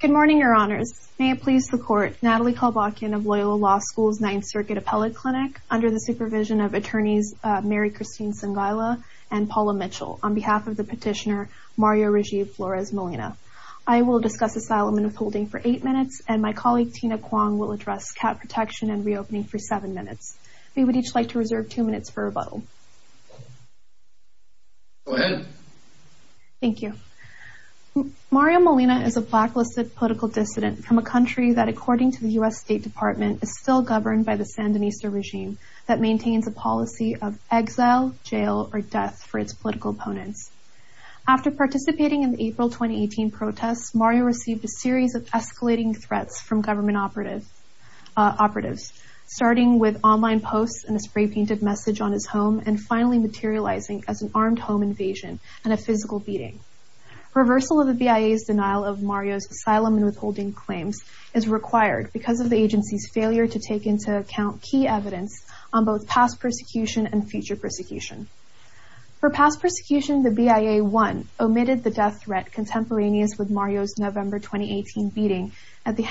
Good morning, your honors. May it please the court, Natalie Kalbachian of Loyola Law School's Ninth Circuit Appellate Clinic, under the supervision of attorneys Mary Christine Sangaila and Paula Mitchell, on behalf of the petitioner Mario Rajiv Flores Molina. I will discuss asylum and upholding for eight minutes, and my colleague Tina Kwong will address cat protection and reopening for seven minutes. We would each like to reserve two minutes for rebuttal. Go ahead. Thank you. Mario Molina is a blacklisted political dissident from a country that, according to the U.S. State Department, is still governed by the Sandinista regime that maintains a policy of exile, jail, or death for its political opponents. After participating in the April 2018 protests, Mario received a series of escalating threats from government operatives, starting with online posts and a spray-painted message on his home, and finally materializing as an armed home invasion and a physical beating. Reversal of the BIA's denial of Mario's asylum and withholding claims is required because of the agency's failure to take into account key evidence on both past persecution and future persecution. For past persecution, the BIA, one, omitted the death threat contemporaneous with Mario's November 2018 beating at the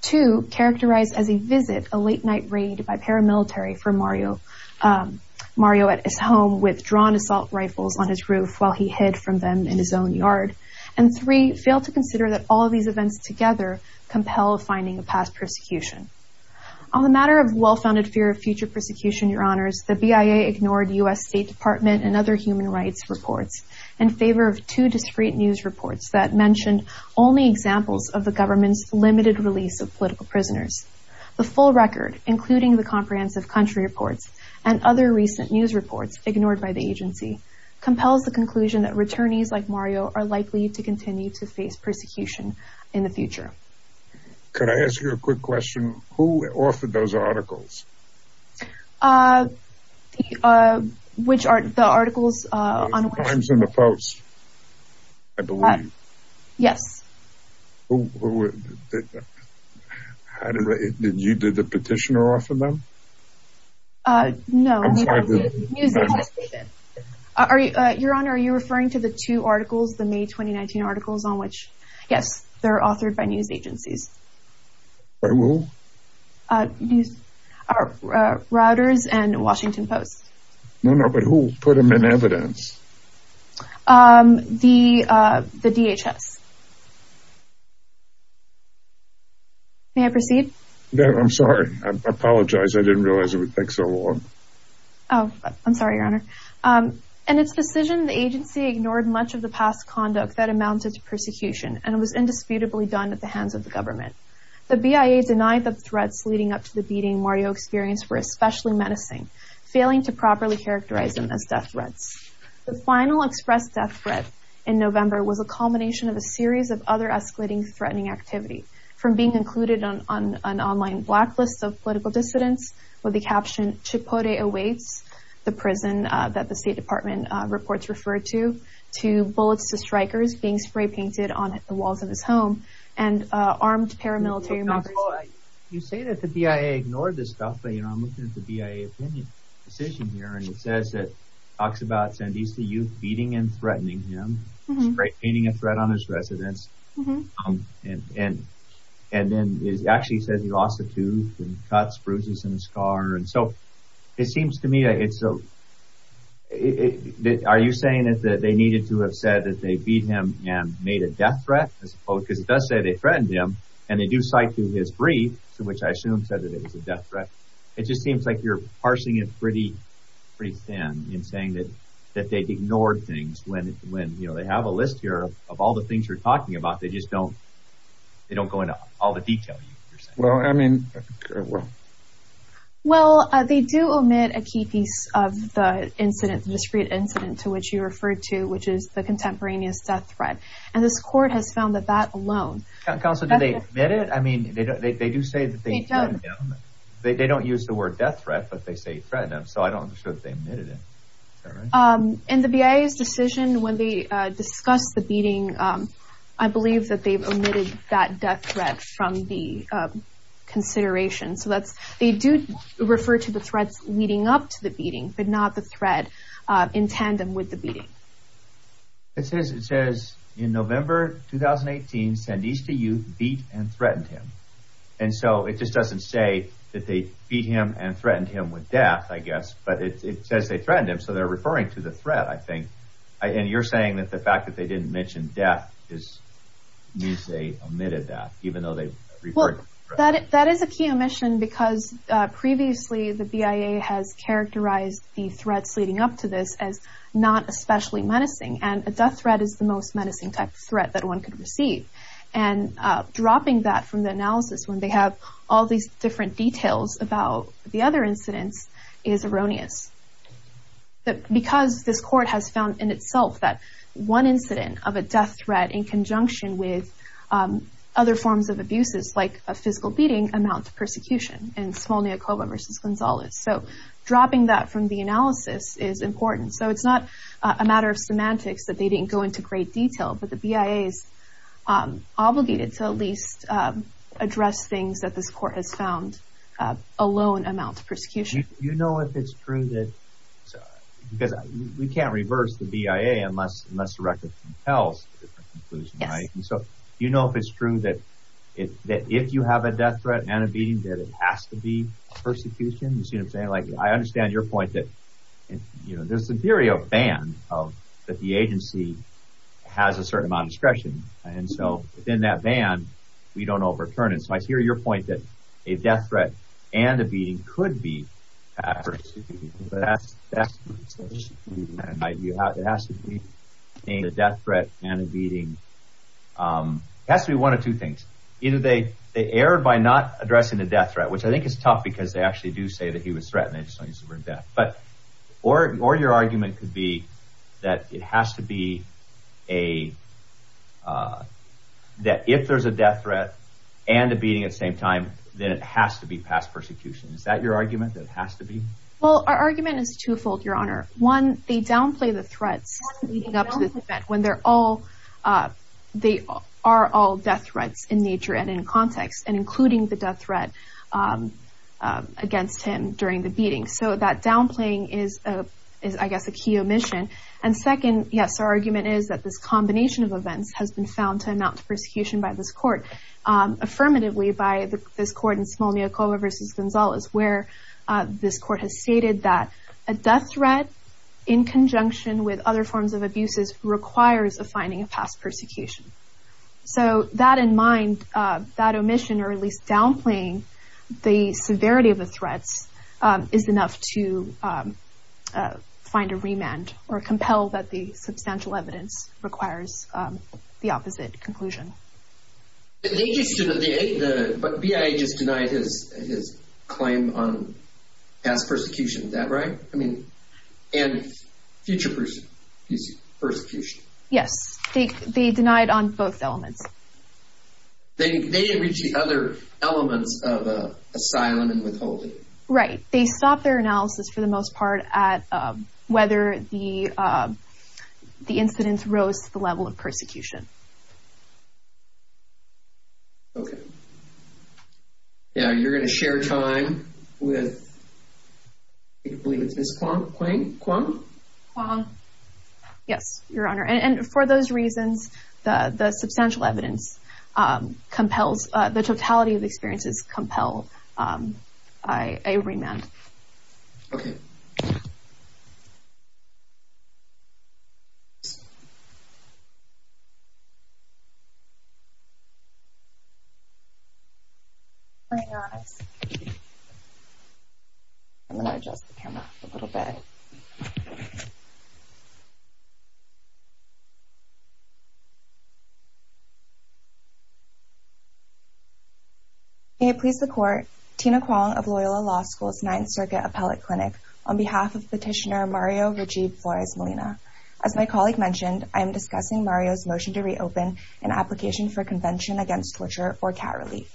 Two, characterized as a visit, a late-night raid by paramilitary for Mario at his home with drawn assault rifles on his roof while he hid from them in his own yard. And three, failed to consider that all of these events together compel finding a past persecution. On the matter of well-founded fear of future persecution, your honors, the BIA ignored U.S. State Department and other human rights reports in favor of two discreet news reports that mentioned only examples of the government's limited release of political prisoners. The full record, including the comprehensive country reports and other recent news reports ignored by the agency, compels the conclusion that returnees like Mario are likely to continue to face persecution in the future. Could I ask you a quick question? Who authored those articles? Uh, the, uh, which are, the articles, uh, on- I believe. Yes. Who, who, did, how did, did you, did the petitioner author them? Uh, no. I'm sorry. The news agency did. Are you, uh, your honor, are you referring to the two articles, the May 2019 articles on which, yes, they're authored by news agencies. By who? Uh, news, uh, uh, Reuters and Washington Post. No, no, but who put them in evidence? Um, the, uh, the DHS. May I proceed? No, I'm sorry. I apologize. I didn't realize it would take so long. Oh, I'm sorry, your honor. Um, in its decision, the agency ignored much of the past conduct that amounted to persecution, and it was indisputably done at the hands of the government. The BIA denied the threats leading up to the beating Mario experienced were especially menacing, failing to properly characterize them as death threats. The final expressed death threat in November was a culmination of a series of other escalating threatening activity, from being included on, on an online blacklist of political dissidents with the caption, Chipotle awaits, the prison, uh, that the State Department, uh, reports referred to, to bullets to strikers being spray painted on the walls of his home, and, uh, armed paramilitary members. Oh, I, you say that the BIA ignored this stuff, but, you know, I'm looking at the BIA opinion decision here, and it says that, talks about Sandisa youth beating and threatening him, spray painting a threat on his residence, um, and, and, and then it actually says he lost a tooth and cuts, bruises, and a scar, and so, it seems to me, it's a, it, it, are you saying that they needed to have said that they beat him and made a death threat, I suppose, because it does say they threatened him, and they do cite to his brief, to which I assume said that it was a death threat, it just seems like you're parsing it pretty, pretty thin in saying that, that they ignored things when, when, you know, they have a list here of, of all the things you're talking about, they just don't, they don't go into all the detail you're saying. Well, I mean, well. Well, uh, they do omit a key piece of the incident, the discreet incident to which you referred to, which is the contemporaneous death threat, and this court has found that that alone. Counsel, do they admit it? I mean, they, they, they do say that they threatened him. They, they don't use the word death threat, but they say threatened him, so I'm not sure that they admitted it. Is that right? Um, in the BIA's decision, when they, uh, discussed the beating, um, I believe that they've omitted that death threat from the, um, consideration, so that's, they do refer to the threats leading up to the beating, but not the threat, uh, in tandem with the beating. It says, it says, in November 2018, Sandista Youth beat and threatened him, and so it just doesn't say that they beat him and threatened him with death, I guess, but it, it says they threatened him, so they're referring to the threat, I think, and you're saying that the fact that they didn't mention death is, you say, omitted that, even though they referred to the threat. Well, that, that is a key omission because, uh, previously the BIA has characterized the threat as potentially menacing, and a death threat is the most menacing type of threat that one could receive, and, uh, dropping that from the analysis when they have all these different details about the other incidents is erroneous. The, because this court has found in itself that one incident of a death threat in conjunction with, um, other forms of abuses, like a physical beating, amounts to persecution in Smolniakova versus Gonzalez, so dropping that from the analysis is important. So it's not a matter of semantics that they didn't go into great detail, but the BIA is, um, obligated to at least, um, address things that this court has found, uh, alone amount to persecution. You know if it's true that, because we can't reverse the BIA unless, unless the record tells a different conclusion, right? Yes. And so, you know if it's true that, that if you have a death threat and a beating, that it has to be persecution, you see what I'm saying? Like, I understand your point that, you know, there's a theory of ban of, that the agency has a certain amount of discretion, and so, within that ban, we don't overturn it. So I hear your point that a death threat and a beating could be persecution, but that's, that's, you have, it has to be a death threat and a beating, um, it has to be one of two things. Either they, they err by not addressing the death threat, which I think is tough because they actually do say that he was threatened, they just don't use the word death. But, or, or your argument could be that it has to be a, uh, that if there's a death threat and a beating at the same time, then it has to be past persecution. Is that your argument? That it has to be? Well, our argument is two-fold, Your Honor. One, they downplay the threats leading up to the event when they're all, uh, they are all death threats in nature and in context, and including the death threat, um, uh, against him during the beating. So that downplaying is, uh, is I guess a key omission. And second, yes, our argument is that this combination of events has been found to amount to persecution by this court, um, affirmatively by this court in Smolniakova v. Gonzalez, where, uh, this court has stated that a death threat in conjunction with other forms of abuses requires a finding of past persecution. So, that in mind, uh, that omission or at least downplaying the severity of the threats, um, is enough to, um, uh, find a remand or compel that the substantial evidence requires, um, the opposite conclusion. But they just, you know, the, the, but BIA just denied his, his claim on past persecution. Is that right? I mean, and future persecution. Yes. They, they denied on both elements. They, they didn't reach the other elements of, uh, asylum and withholding. Right. They stopped their analysis for the most part at, um, whether the, um, the incidents rose to the level of persecution. Okay. Yeah, you're going to share time with, I believe it's Ms. Quang, Quang? Quang. Yes, Your Honor. And, and for those reasons, the, the substantial evidence, um, compels, uh, the totality of experiences compel, um, I, a remand. Okay. I'm going to adjust the camera a little bit. May it please the Court, Tina Quang of Loyola Law School's Ninth Circuit Appellate Clinic on behalf of Petitioner Mario Rajiv Flores Molina. As my colleague mentioned, I am discussing Mario's motion to reopen an application for Convention Against Torture or CAT relief.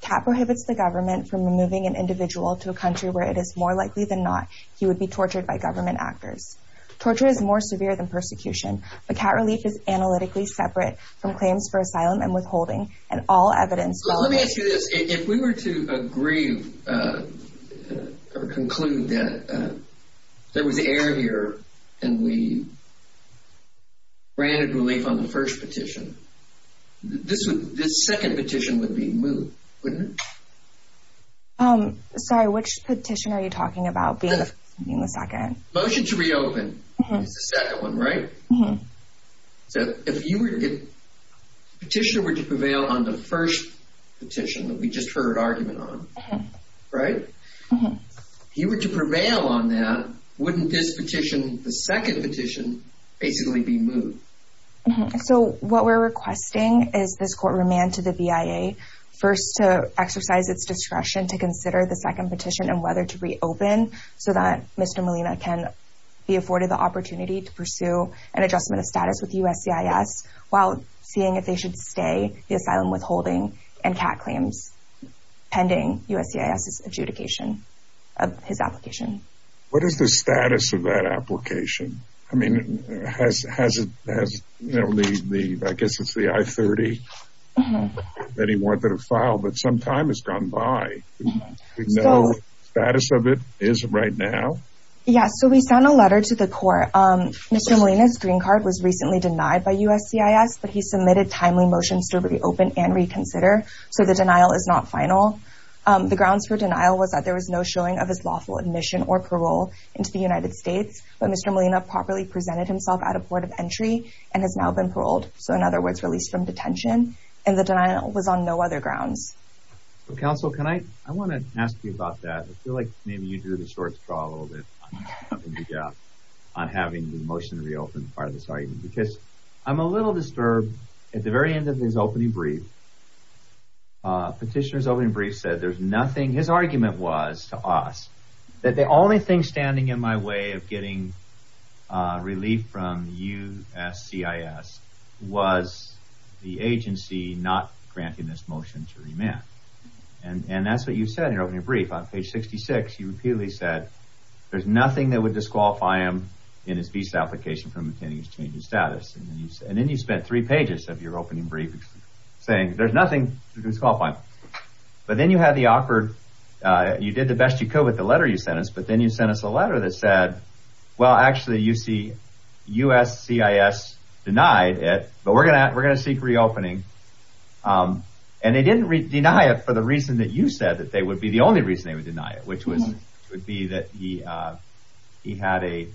CAT prohibits the government from removing an individual to a country where it is more likely than not he would be tortured by government actors. Torture is more severe than persecution, but CAT relief is analytically separate from claims for asylum and withholding, and all evidence... Let me ask you this. If we were to agree, uh, or conclude that, uh, there was error here and we granted relief on the first petition, this would, this second petition would be moved, wouldn't it? Um, sorry, which petition are you talking about being the, being the second? Motion to reopen is the second one, right? Mm-hmm. So if you were to get, Petitioner were to prevail on the first petition that we just heard argument on, right? Mm-hmm. If you were to prevail on that, wouldn't this petition, the second petition, basically be moved? Mm-hmm. So what we're requesting is this Court remand to the BIA first to exercise its discretion to consider the second petition and whether to reopen so that Mr. Molina can be afforded the opportunity to pursue an adjustment of status with USCIS while seeing if they should stay the asylum withholding and CAT claims pending USCIS's adjudication of his application. What is the status of that application? I mean, has, has it, has, you know, the, the, I guess it's the I-30 that he wanted to file, but some time has gone by. No status of it is right now. Yeah. So we sent a letter to the Court. Mr. Molina's green card was recently denied by USCIS, but he submitted timely motions to reopen and reconsider. So the denial is not final. The grounds for denial was that there was no showing of his lawful admission or parole into the United States, but Mr. Molina properly presented himself at a port of entry and has now been paroled. So in other words, released from detention and the denial was on no other grounds. Well, counsel, can I, I want to ask you about that. I feel like maybe you drew the short straw a little bit on having the motion to reopen part of this argument, because I'm a little disturbed at the very end of his opening brief. Petitioner's opening brief said there's nothing. His argument was to us that the only thing standing in my way of getting relief from USCIS was the agency not granting this motion to remand. And that's what you said in your opening brief. On page 66, you repeatedly said there's nothing that would disqualify him in his visa application from obtaining his change of status. And then you spent three pages of your opening brief saying there's nothing to disqualify him. But then you had the awkward, you did the best you could with the letter you sent us, but then you sent us a letter that said, well, actually you see USCIS denied it, but we're going to, we're going to seek reopening. And they didn't deny it for the reason that you said that they would be the only reason they would deny it, which was, would be that he, he had a,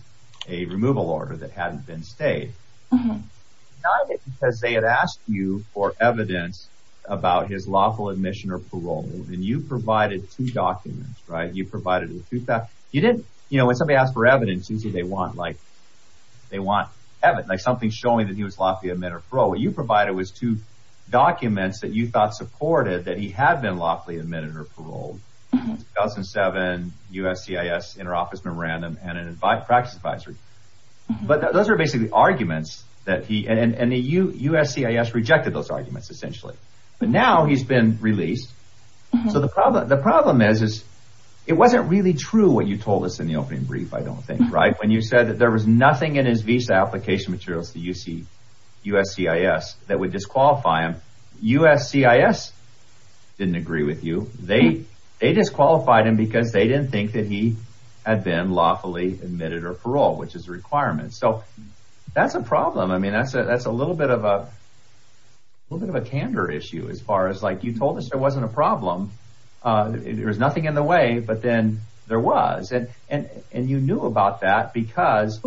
a removal order that hadn't been stayed. Not because they had asked you for evidence about his lawful admission or parole. And you provided two documents, right? You provided, you did, you know, when somebody asked for evidence, usually they want like, they want evidence, like something showing that he was lawfully admitted or paroled. What you provided was two documents that you thought supported that he had been lawfully admitted or paroled. 2007 USCIS inter-office memorandum and an advice practice advisory. But those are basically arguments that he, and the USCIS rejected those arguments essentially. But now he's been released. So the problem, the problem is, is it wasn't really true what you told us in the opening brief, I don't think, right? When you said that there was nothing in his visa application materials to USCIS that would disqualify him. USCIS didn't agree with you. They disqualified him because they didn't think that he had been lawfully admitted or paroled, which is a requirement. So that's a problem. I mean, that's a, that's a little bit of a, a little bit of a candor issue as far as like you told us there wasn't a problem. There was nothing in the way, but then there was. And you knew about that because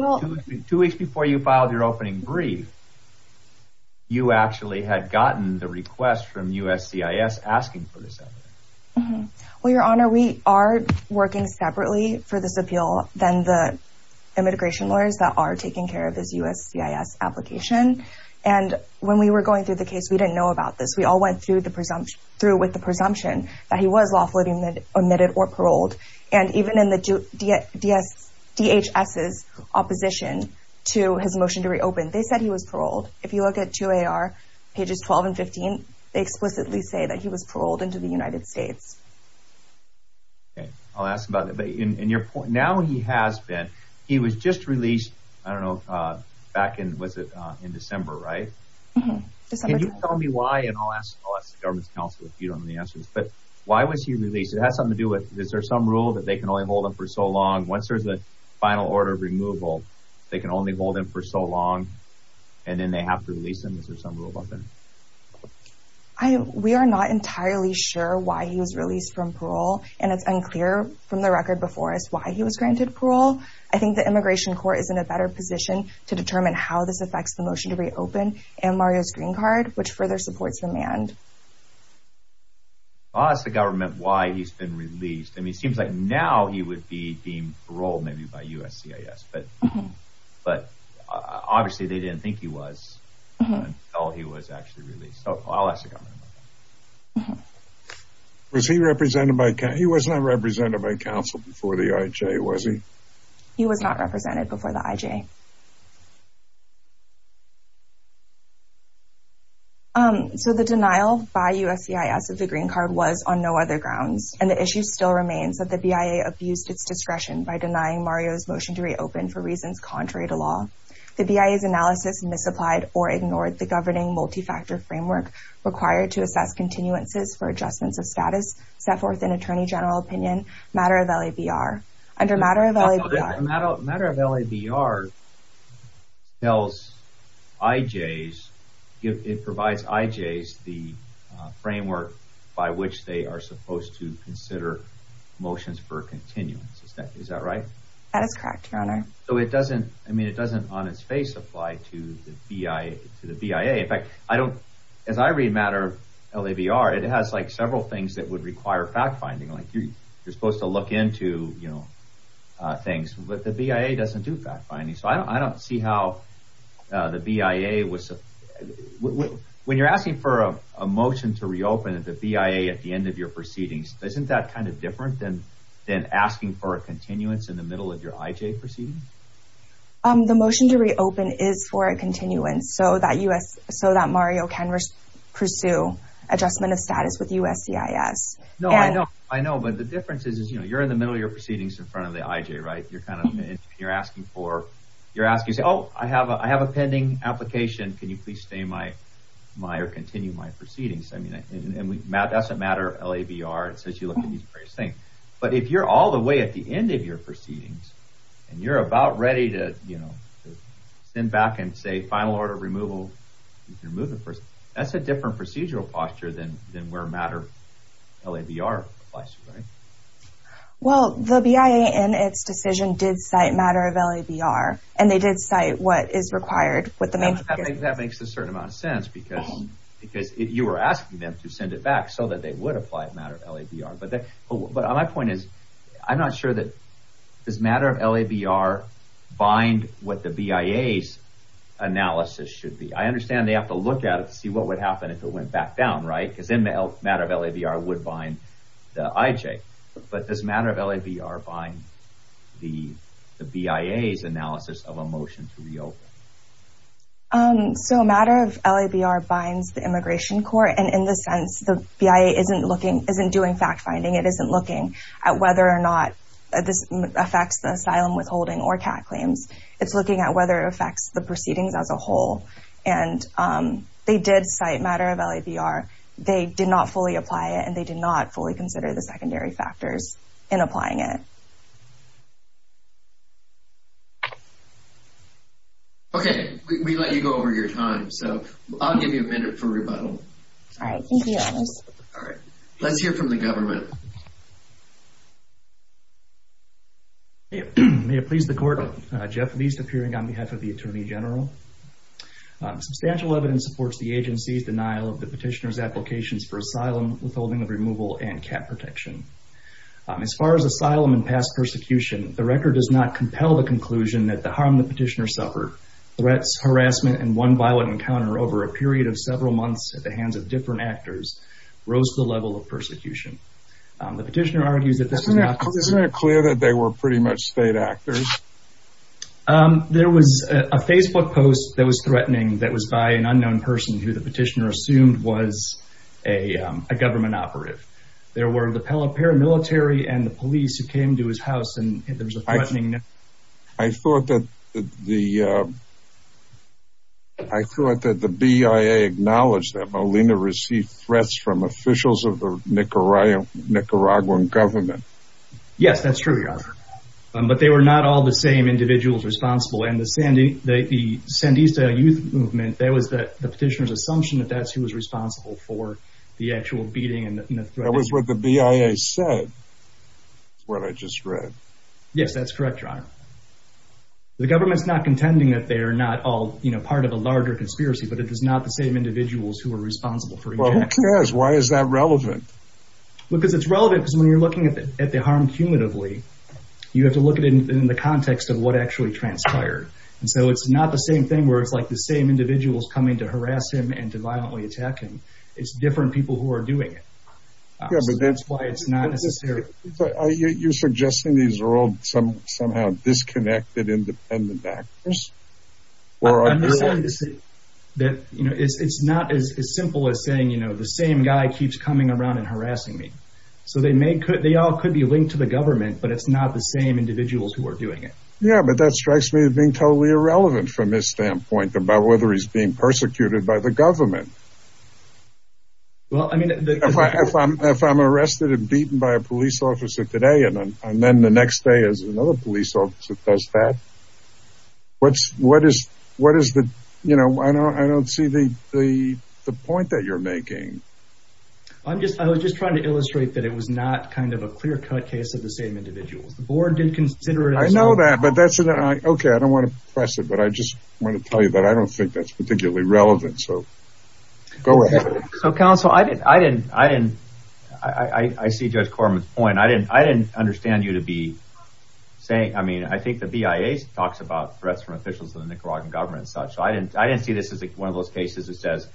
two weeks before you filed your opening brief, you actually had gotten the request from USCIS asking for this evidence. Well, Your Honor, we are working separately for this appeal than the immigration lawyers that are taking care of his USCIS application. And when we were going through the case, we didn't know about this. We all went through the presumption, through with the presumption that he was lawfully admitted or paroled. And even in the DHS's opposition to his motion to reopen, they said he was paroled. If you look at 2AR pages 12 and 15, they explicitly say that he was paroled into the United States. Okay. I'll ask about that. But in your point, now he has been, he was just released, I don't know, back in, was it in December, right? Can you tell me why? And I'll ask the government's counsel if you don't know the answers. But why was he released? It has something to do with, is there some rule that they can only hold him for so long? Once there's a final order of removal, they can only hold him for so long, and then they have to release him? Is there some rule about that? We are not entirely sure why he was released from parole. And it's unclear from the record before us why he was granted parole. I think the immigration court is in a better position to determine how this affects the motion to reopen and Mario's green card, which further supports remand. I'll ask the government why he's been released. I mean, it seems like now he would be being paroled maybe by USCIS, but obviously they didn't think he was until he was actually released. So I'll ask the government. Was he represented by, he was not represented by counsel before the IJ, was he? He was not represented before the IJ. So the denial by USCIS of the green card was on no other grounds. And the issue still remains that the BIA abused its discretion by denying Mario's motion to reopen for reasons contrary to law. The BIA's analysis misapplied or ignored the governing multi-factor framework required to assess continuances for adjustments of status set forth in attorney general opinion, matter of LABR. Matter of LABR tells IJs, it provides IJs the framework by which they are supposed to consider motions for continuance. Is that right? That is correct, your honor. So it doesn't, I mean, it doesn't on its face apply to the BIA. In fact, I don't, as I read matter of LABR, it has like several things that would require fact finding. Like you're supposed to look into, you know, things, but the BIA doesn't do fact finding. So I don't see how the BIA was, when you're asking for a motion to reopen at the BIA at the end of your proceedings, isn't that kind of different than asking for a continuance in the middle of your IJ proceedings? The motion to reopen is for a continuance so that Mario can pursue adjustment of status with USCIS. No, I know. I know, but the difference is, you know, you're in the middle of your proceedings in front of the IJ, right? You're kind of, you're asking for, you're asking, oh, I have a pending application. Can you please stay in my, or continue my proceedings? I mean, that doesn't matter LABR, it says you look at these various things. But if you're all the way at the end of your proceedings, and you're about ready to, you know, send back and say final order removal, you can remove the person. That's a different procedural posture than where matter of LABR applies to, right? Well, the BIA in its decision did cite matter of LABR, and they did cite what is required. That makes a certain amount of sense because you were asking them to send it back so that they would apply matter of LABR. But my point is, I'm not sure that, does matter of LABR bind what the BIA's analysis should be? I understand they have to look at it to see what would happen if it went back down, right? Because then matter of LABR would bind the IJ. But does matter of LABR bind the BIA's analysis of a motion to reopen? So matter of LABR binds the immigration court. And in this sense, the BIA isn't looking, isn't doing fact finding. It isn't looking at whether or not this affects the asylum withholding or CAT claims. It's looking at whether it affects the proceedings as a whole. And they did cite matter of LABR. They did not fully apply it, and they did not fully consider the secondary factors in applying it. Okay, we let you go over your time. So I'll give you a minute for rebuttal. All right. Thank you. All right. Let's hear from the government. May it please the court. Jeff Leist appearing on behalf of the Attorney General. Substantial evidence supports the agency's denial of the petitioner's applications for asylum withholding of removal and CAT protection. As far as asylum and past persecution, the record does not compel the conclusion that the harm the petitioner suffered, threats, harassment, and one violent encounter over a period of several months at the hands of different actors, rose to the level of persecution. The petitioner argues that this is not- Isn't it clear that they were pretty much state actors? There was a Facebook post that was threatening that was by an unknown person who the petitioner assumed was a government operative. There were the paramilitary and the police who came to his house, and there was a threatening- I thought that the BIA acknowledged that Molina received threats from officials of the Nicaraguan government. Yes, that's true, Your Honor. But they were not all the same individuals responsible. And the Sandista Youth Movement, that was the petitioner's assumption that that's who was responsible for the actual beating and the threat- That was what the BIA said, what I just read. Yes, that's correct, Your Honor. The government's not contending that they are not all part of a larger conspiracy, but it is not the same individuals who are responsible for- Well, who cares? Why is that relevant? Because it's relevant because when you're looking at the harm cumulatively, you have to look at it in the context of what actually transpired. And so it's not the same thing where it's like the same individuals coming to harass him and to violently attack him. It's different people who are doing it. So that's why it's not necessarily- Are you suggesting these are all somehow disconnected, independent actors? I'm just saying that it's not as simple as saying, you know, the same guy keeps coming around and harassing me. So they all could be linked to the government, but it's not the same individuals who are doing it. Yeah, but that strikes me as being totally irrelevant from his standpoint about whether he's being persecuted by the government. Well, I mean- If I'm arrested and beaten by a police officer today, and then the next day there's another police officer that does that, what is the- I don't see the point that you're making. I was just trying to illustrate that it was not kind of a clear-cut case of the same individuals. The board did consider it as- I know that, but that's- okay, I don't want to press it, but I just want to tell you that I don't think that's particularly relevant, so go ahead. So, counsel, I didn't- I see Judge Corman's point. I didn't understand you to be saying- I mean, I think the BIA talks about threats from officials of the Nicaraguan government and such. I didn't see this as one of those cases that says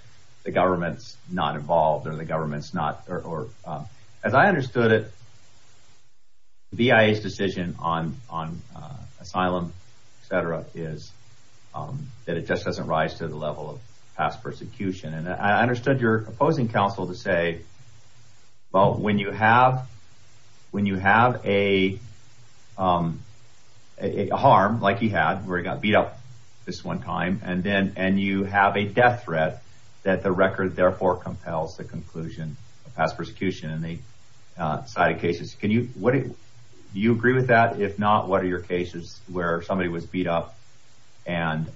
the government's not involved or the government's not- As I understood it, the BIA's decision on asylum, et cetera, is that it just doesn't rise to the level of past persecution. And I understood your opposing counsel to say, well, when you have a harm, like he had, where he got beat up this one time, and you have a death threat, that the record therefore compels the conclusion of past persecution in the side of cases. Do you agree with that? If not, what are your cases where somebody was beat up and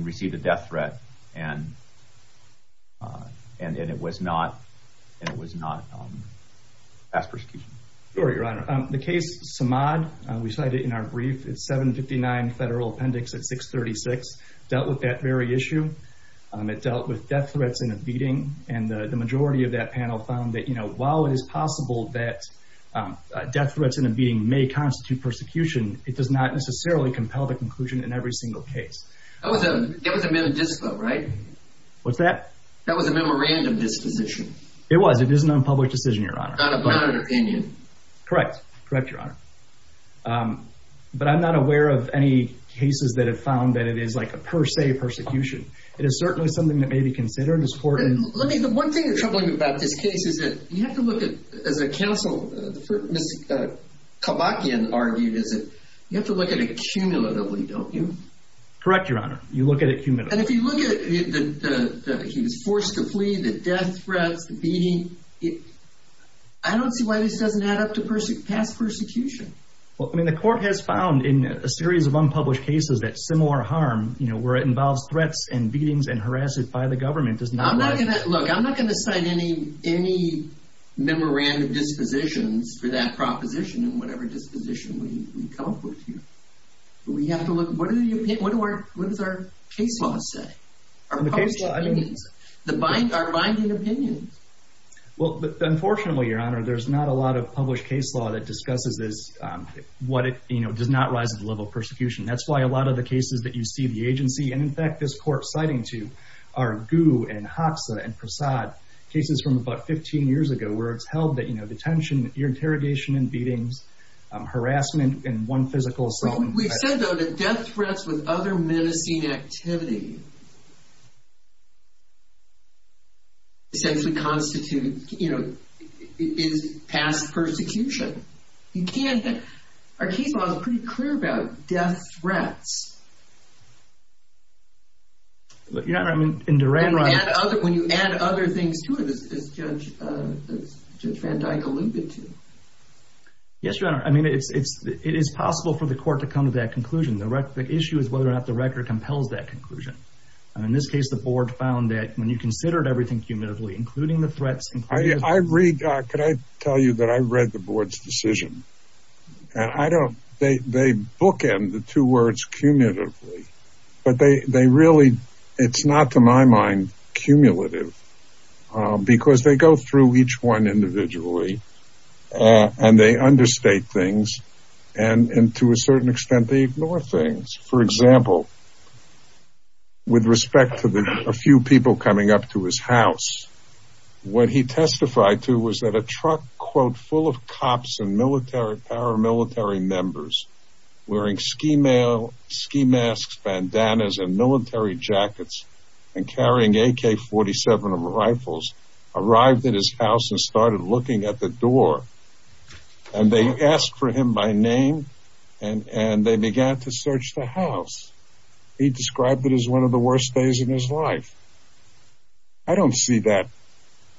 received a death threat and it was not past persecution? Sure, Your Honor. The case Samad, we cited in our brief, it's 759 Federal Appendix at 636, dealt with that very issue. It dealt with death threats in a beating, and the majority of that panel found that while it is possible that death threats in a beating may constitute persecution, it does not necessarily compel the conclusion in every single case. That was a memorandum disposition. It was. It is an unpublished decision, Your Honor. Not an opinion. It is certainly something that may be considered in this court. Let me, the one thing that's troubling me about this case is that you have to look at, as a counsel, Ms. Kabakian argued is that you have to look at it cumulatively, don't you? Correct, Your Honor. You look at it cumulatively. And if you look at the, he was forced to flee, the death threats, the beating, I don't see why this doesn't add up to past persecution. Well, I mean, the court has found in a series of unpublished cases that similar harm, you know, where it involves threats and beatings and harassment by the government does not... I'm not going to, look, I'm not going to cite any memorandum dispositions for that proposition in whatever disposition we come up with here. We have to look, what do you, what do our, what does our case law say? Our published opinions. The binding, our binding opinions. Well, unfortunately, Your Honor, there's not a lot of published case law that discusses this, what it, you know, does not rise to the level of persecution. That's why a lot of the cases that you see the agency, and in fact, this court citing to, are Gu and Hoxa and Prasad, cases from about 15 years ago where it's held that, you know, detention, interrogation and beatings, harassment and one physical assault. We've said, though, that death threats with other menacing activity essentially constitute, you know, is past persecution. You can't, our case law is pretty clear about death threats. But, Your Honor, I mean, in Duran, right? When you add other things to it, as Judge Van Dyke alluded to. Yes, Your Honor. I mean, it's, it is possible for the court to come to that conclusion. The issue is whether or not the record compels that conclusion. In this case, the board found that when you considered everything cumulatively, including the threats. I read, could I tell you that I read the board's decision? And I don't, they bookend the two words cumulatively. But they really, it's not to my mind, cumulative. Because they go through each one individually. And they understate things. And to a certain extent, they ignore things. For example, with respect to a few people coming up to his house, what he testified to was that a truck, quote, full of cops and military, paramilitary members wearing ski masks, bandanas, and military jackets and carrying AK-47 rifles arrived at his house and started looking at the door. And they asked for him by name. And they began to search the house. He described it as one of the worst days of his life. I don't see that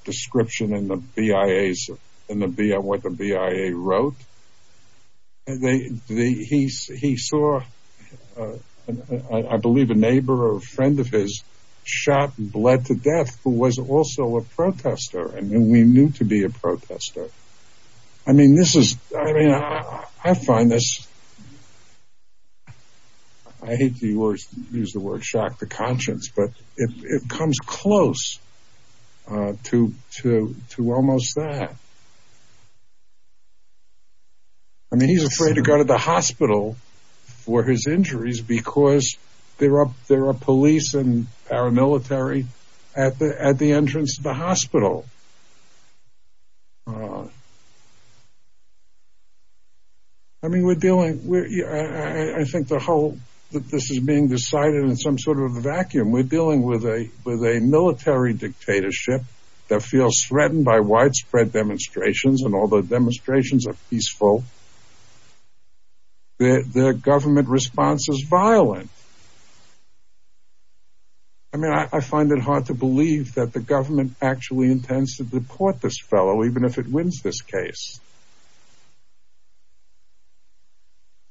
description in the BIA's, in what the BIA wrote. He saw, I believe, a neighbor or a friend of his shot and bled to death who was also a protester. And we knew to be a protester. I mean, this is, I mean, I find this, I hate to use the word shock to conscience, but it comes close to almost that. I mean, he's afraid to go to the hospital for his injuries because there are police and paramilitary at the entrance to the hospital. I mean, we're dealing, I think the whole, this is being decided in some sort of a vacuum. We're dealing with a military dictatorship that feels threatened by widespread demonstrations and all the demonstrations are peaceful. The government response is violent. I mean, I find it hard to believe that the government actually intends to deport this fellow even if it wins this case.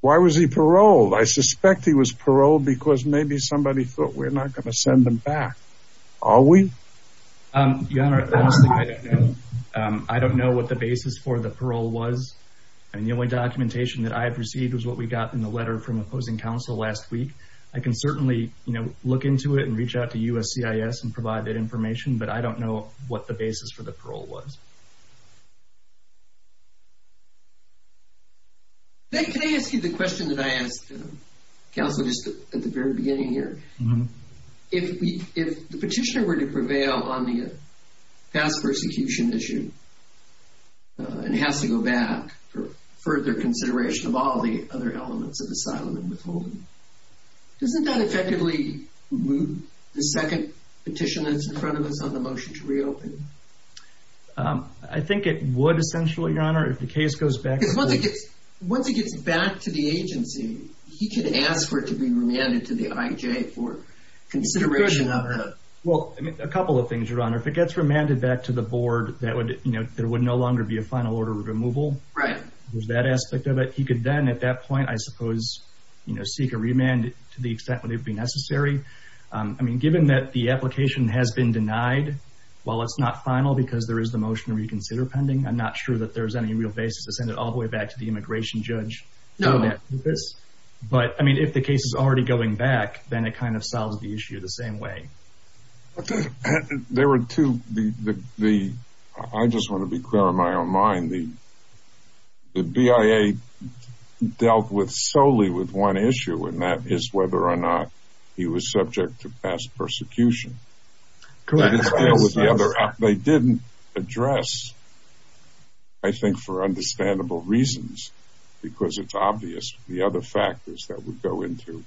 Why was he paroled? I suspect he was paroled because maybe somebody thought we're not going to send him back. Are we? Your Honor, honestly, I don't know. I don't know what the basis for the parole was. I mean, the only documentation that I have received was what we got in the letter from opposing counsel last week. I can certainly look into it and reach out to USCIS and provide that information, but I don't know what the basis for the parole was. Can I ask you the question that I asked counsel just at the very beginning here? If the petitioner were to prevail on the past persecution issue and has to go back for further consideration of all the other elements of asylum and withholding, doesn't that effectively move the second petition that's in front of us on the motion to reopen? I think it would essentially, Your Honor, if the case goes back. Because once it gets back to the agency, he could ask for it to be remanded to the IJ for consideration of the— Well, a couple of things, Your Honor. If it gets remanded back to the board, there would no longer be a final order of removal. Right. There's that aspect of it. He could then at that point, I suppose, seek a remand to the extent when it would be necessary. I mean, given that the application has been denied, while it's not final because there is the motion to reconsider pending, I'm not sure that there's any real basis to send it all the way back to the immigration judge. No. But, I mean, if the case is already going back, then it kind of solves the issue the same way. There were two—I just want to be clear in my own mind. The BIA dealt solely with one issue, and that is whether or not he was subject to past persecution. Correct. They didn't address, I think for understandable reasons, because it's obvious the other factors that would go into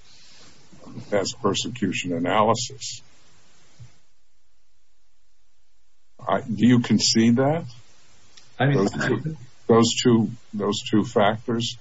past persecution analysis. Do you concede that? Those two factors?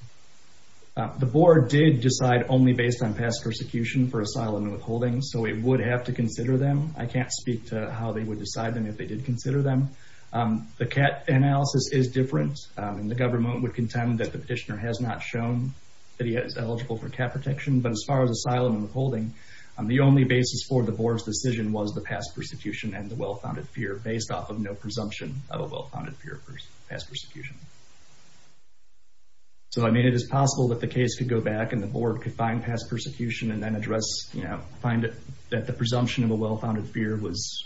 The board did decide only based on past persecution for asylum and withholding, so it would have to consider them. I can't speak to how they would decide them if they did consider them. The CAT analysis is different, and the government would contend that the petitioner has not shown that he is eligible for CAT protection. But as far as asylum and withholding, the only basis for the board's decision was the past persecution and the well-founded fear, based off of no presumption of a well-founded fear of past persecution. So, I mean, it is possible that the case could go back, and the board could find past persecution, and then find that the presumption of a well-founded fear was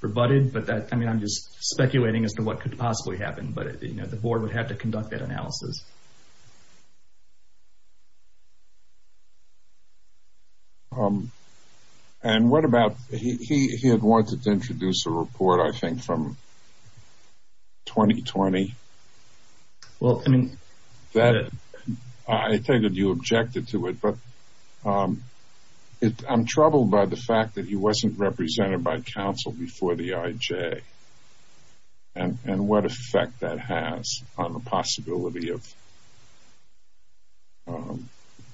rebutted. But I'm just speculating as to what could possibly happen, but the board would have to conduct that analysis. And what about he had wanted to introduce a report, I think, from 2020? Well, I mean... I take it you objected to it, but I'm troubled by the fact that he wasn't represented by counsel before the IJ, and what effect that has on the possibility of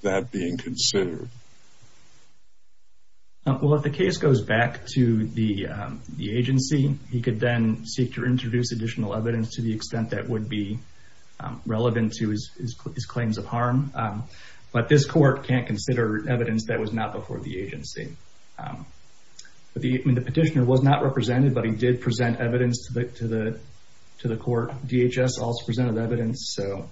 that being considered. Well, if the case goes back to the agency, he could then seek to introduce additional evidence to the extent that would be relevant to his claims of harm. But this court can't consider evidence that was not before the agency. The petitioner was not represented, but he did present evidence to the court. DHS also presented evidence. So,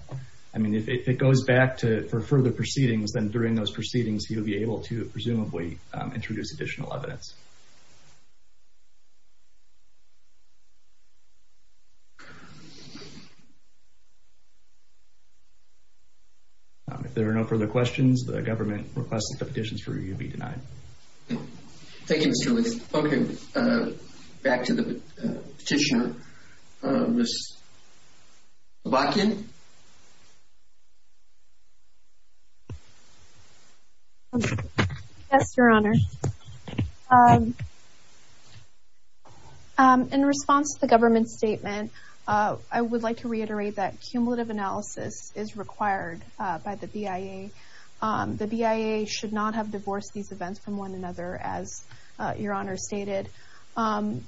I mean, if it goes back for further proceedings, then during those proceedings, he would be able to presumably introduce additional evidence. If there are no further questions, the government requests that the petitions review be denied. Thank you, Mr. Leith. Okay. Back to the petitioner. Ms. Blotkin? Yes, Your Honor. In response to the government's statement, I would like to reiterate that cumulative analysis is required by the BIA. The BIA should not have divorced these events from one another, as Your Honor stated. And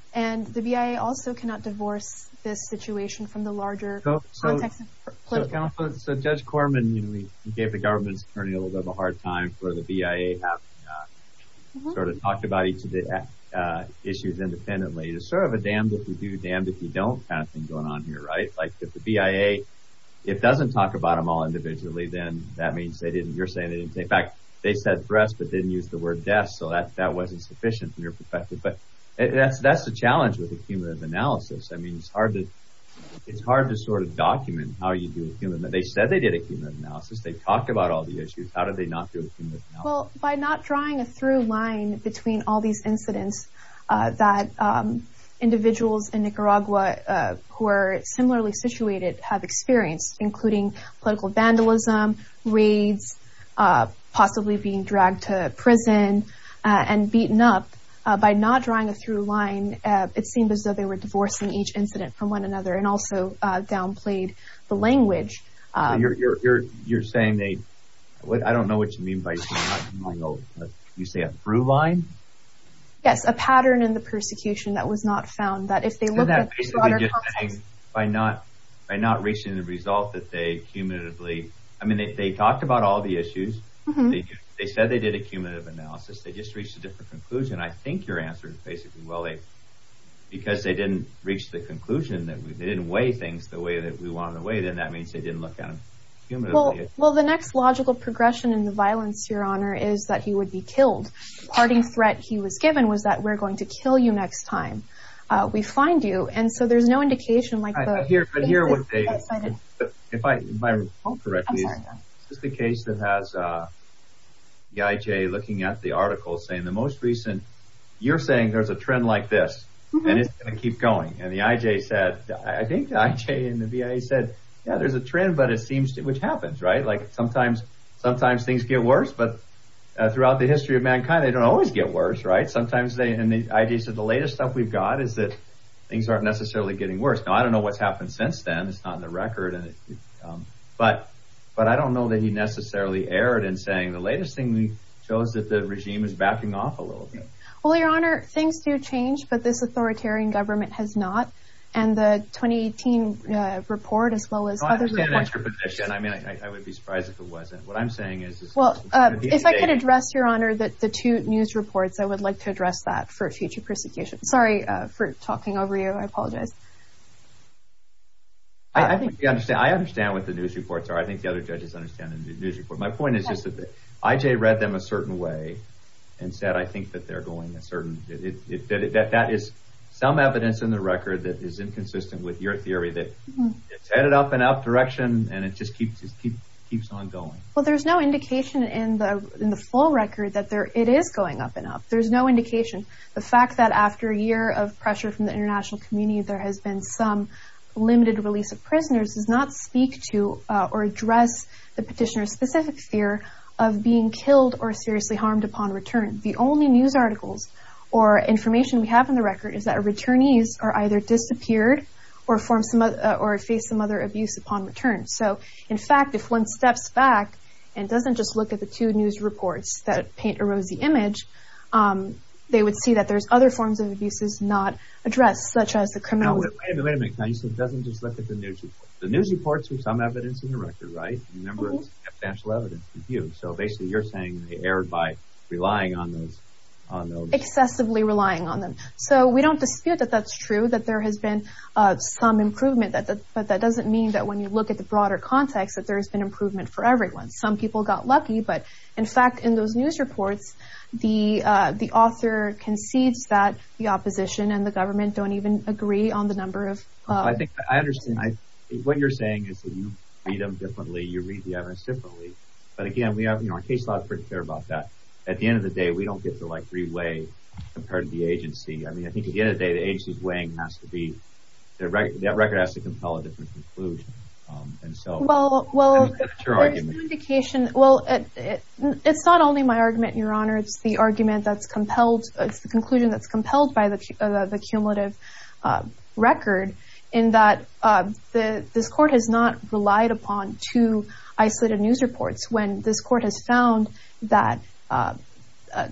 the BIA also cannot divorce this situation from the larger context. So, Judge Corman, you gave the government's attorney a little bit of a hard time for the BIA having sort of talked about each of the issues independently. It's sort of a damned if you do, damned if you don't kind of thing going on here, right? Like, if the BIA, if it doesn't talk about them all individually, then that means they didn't, you're saying they didn't. In fact, they said threats but didn't use the word deaths, so that wasn't sufficient from your perspective. But that's the challenge with the cumulative analysis. I mean, it's hard to sort of document how you do a cumulative analysis. They said they did a cumulative analysis. They talked about all the issues. How did they not do a cumulative analysis? Well, by not drawing a through line between all these incidents that individuals in Nicaragua who are similarly situated have experienced, including political vandalism, raids, possibly being dragged to prison and beaten up. By not drawing a through line, it seemed as though they were divorcing each incident from one another and also downplayed the language. You're saying they, I don't know what you mean by, you say a through line? Yes, a pattern in the persecution that was not found, that if they look at the broader context. By not reaching the result that they cumulatively, I mean, they talked about all the issues. They said they did a cumulative analysis. They just reached a different conclusion. I think your answer is basically, well, because they didn't reach the conclusion, they didn't weigh things the way that we wanted to weigh them, that means they didn't look at them cumulatively. Well, the next logical progression in the violence, your honor, is that he would be killed. The parting threat he was given was that we're going to kill you next time we find you. And so there's no indication like that. I hear what Dave is saying. If I'm correct, this is the case that has the IJ looking at the article saying the most recent. You're saying there's a trend like this and it's going to keep going. And the IJ said, I think the IJ and the BIA said, yeah, there's a trend, but it seems to which happens, right? Like sometimes sometimes things get worse. But throughout the history of mankind, they don't always get worse. Right. Sometimes they and the ideas of the latest stuff we've got is that things aren't necessarily getting worse. Now, I don't know what's happened since then. It's not in the record. But but I don't know that he necessarily erred in saying the latest thing we chose that the regime is backing off a little bit. Well, Your Honor, things do change, but this authoritarian government has not. And the 2018 report, as well as other reports. I mean, I would be surprised if it wasn't. What I'm saying is. Well, if I could address, Your Honor, that the two news reports, I would like to address that for future persecution. Sorry for talking over you. I apologize. I think I understand. I understand what the news reports are. I think the other judges understand the news report. My point is just that I read them a certain way and said, I think that they're going a certain. That is some evidence in the record that is inconsistent with your theory that it's headed up and up direction. And it just keeps keeps keeps on going. Well, there's no indication in the in the full record that there it is going up and up. There's no indication. The fact that after a year of pressure from the international community, there has been some limited release of prisoners does not speak to or address the petitioner's specific fear of being killed or seriously harmed upon return. The only news articles or information we have on the record is that returnees are either disappeared or form some or face some other abuse upon return. So, in fact, if one steps back and doesn't just look at the two news reports that paint a rosy image, they would see that there's other forms of abuses not addressed, such as the criminal. Wait a minute, wait a minute. So it doesn't just look at the news reports. The news reports are some evidence in the record, right? Remember, it's substantial evidence. So basically you're saying they erred by relying on those. Excessively relying on them. So we don't dispute that that's true, that there has been some improvement. But that doesn't mean that when you look at the broader context, that there has been improvement for everyone. Some people got lucky, but in fact, in those news reports, the author concedes that the opposition and the government don't even agree on the number of... I understand. What you're saying is that you read them differently, you read the evidence differently. But again, we have our case logs pretty clear about that. At the end of the day, we don't get to like three way compared to the agency. I mean, I think at the end of the day, the agency's weighing has to be... that record has to compel a different conclusion. Well, it's not only my argument, Your Honor, it's the argument that's compelled, it's the conclusion that's compelled by the cumulative record. In that this court has not relied upon two isolated news reports when this court has found that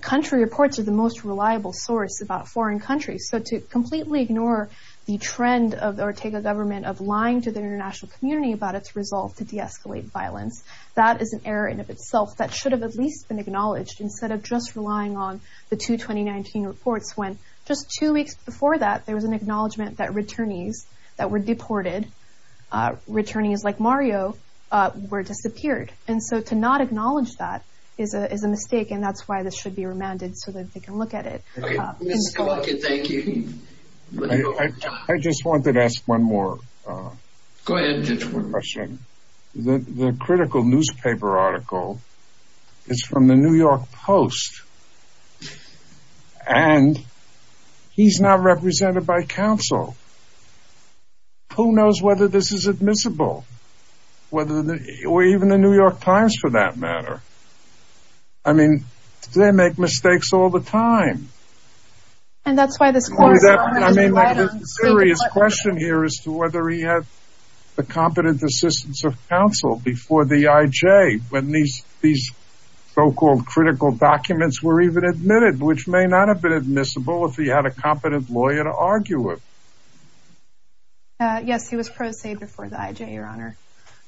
country reports are the most reliable source about foreign countries. So to completely ignore the trend of Ortega government of lying to the international community about its resolve to de-escalate violence, that is an error in of itself that should have at least been acknowledged instead of just relying on the two 2019 reports when just two weeks before that, there was an acknowledgement that returnees that were deported, returnees like Mario, were disappeared. And so to not acknowledge that is a mistake, and that's why this should be remanded so that they can look at it. Okay, Ms. Koloki, thank you. I just wanted to ask one more question. The critical newspaper article is from the New York Post, and he's not represented by counsel. Who knows whether this is admissible, or even the New York Times for that matter? I mean, they make mistakes all the time. And that's why this court— I mean, there's a serious question here as to whether he had the competent assistance of counsel before the IJ, when these so-called critical documents were even admitted, which may not have been admissible if he had a competent lawyer to argue with. Yes, he was pro se before the IJ, Your Honor.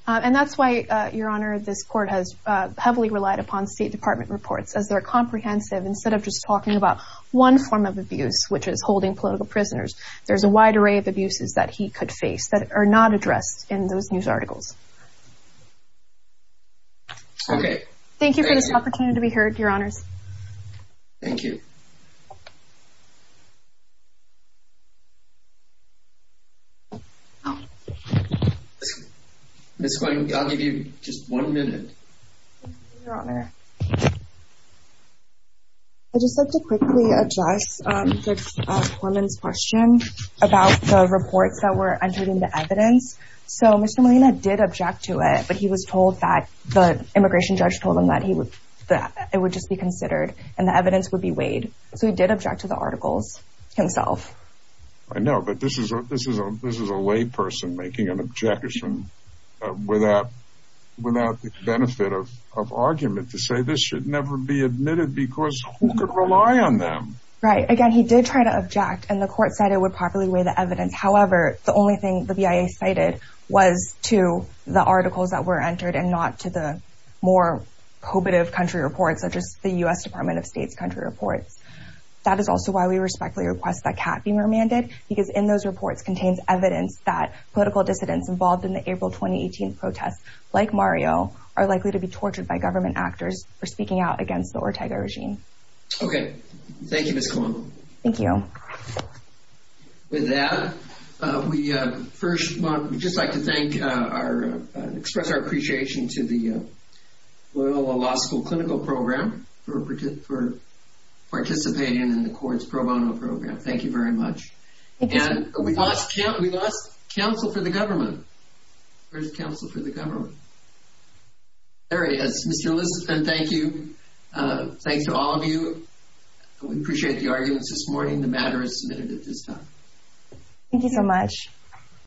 And that's why, Your Honor, this court has heavily relied upon State Department reports, as they're comprehensive. Instead of just talking about one form of abuse, which is holding political prisoners, there's a wide array of abuses that he could face that are not addressed in those news articles. Okay. Thank you for this opportunity to be heard, Your Honors. Thank you. Ms. Cohen, I'll give you just one minute. Thank you, Your Honor. I'd just like to quickly address Judge Corman's question about the reports that were entered into evidence. So Mr. Molina did object to it, but he was told that the immigration judge told him that it would just be considered, and the evidence would be weighed. So he did object to the articles himself. I know, but this is a lay person making an objection without the benefit of argument, to say this should never be admitted because who could rely on them? Right. Again, he did try to object, and the court said it would properly weigh the evidence. However, the only thing the BIA cited was to the articles that were entered and not to the more probative country reports, such as the U.S. Department of State's country reports. That is also why we respectfully request that Catt be remanded, because in those reports contains evidence that political dissidents involved in the April 2018 protests, like Mario, are likely to be tortured by government actors for speaking out against the Ortega regime. Okay. Thank you, Ms. Cohen. Thank you. With that, we'd just like to express our appreciation to the Loyola Law School Clinical Program for participating in the Court's pro bono program. Thank you very much. We lost counsel for the government. Where's counsel for the government? There he is. Mr. Lisitspin, thank you. Thanks to all of you. We appreciate the arguments this morning. The matter is submitted at this time. Thank you so much.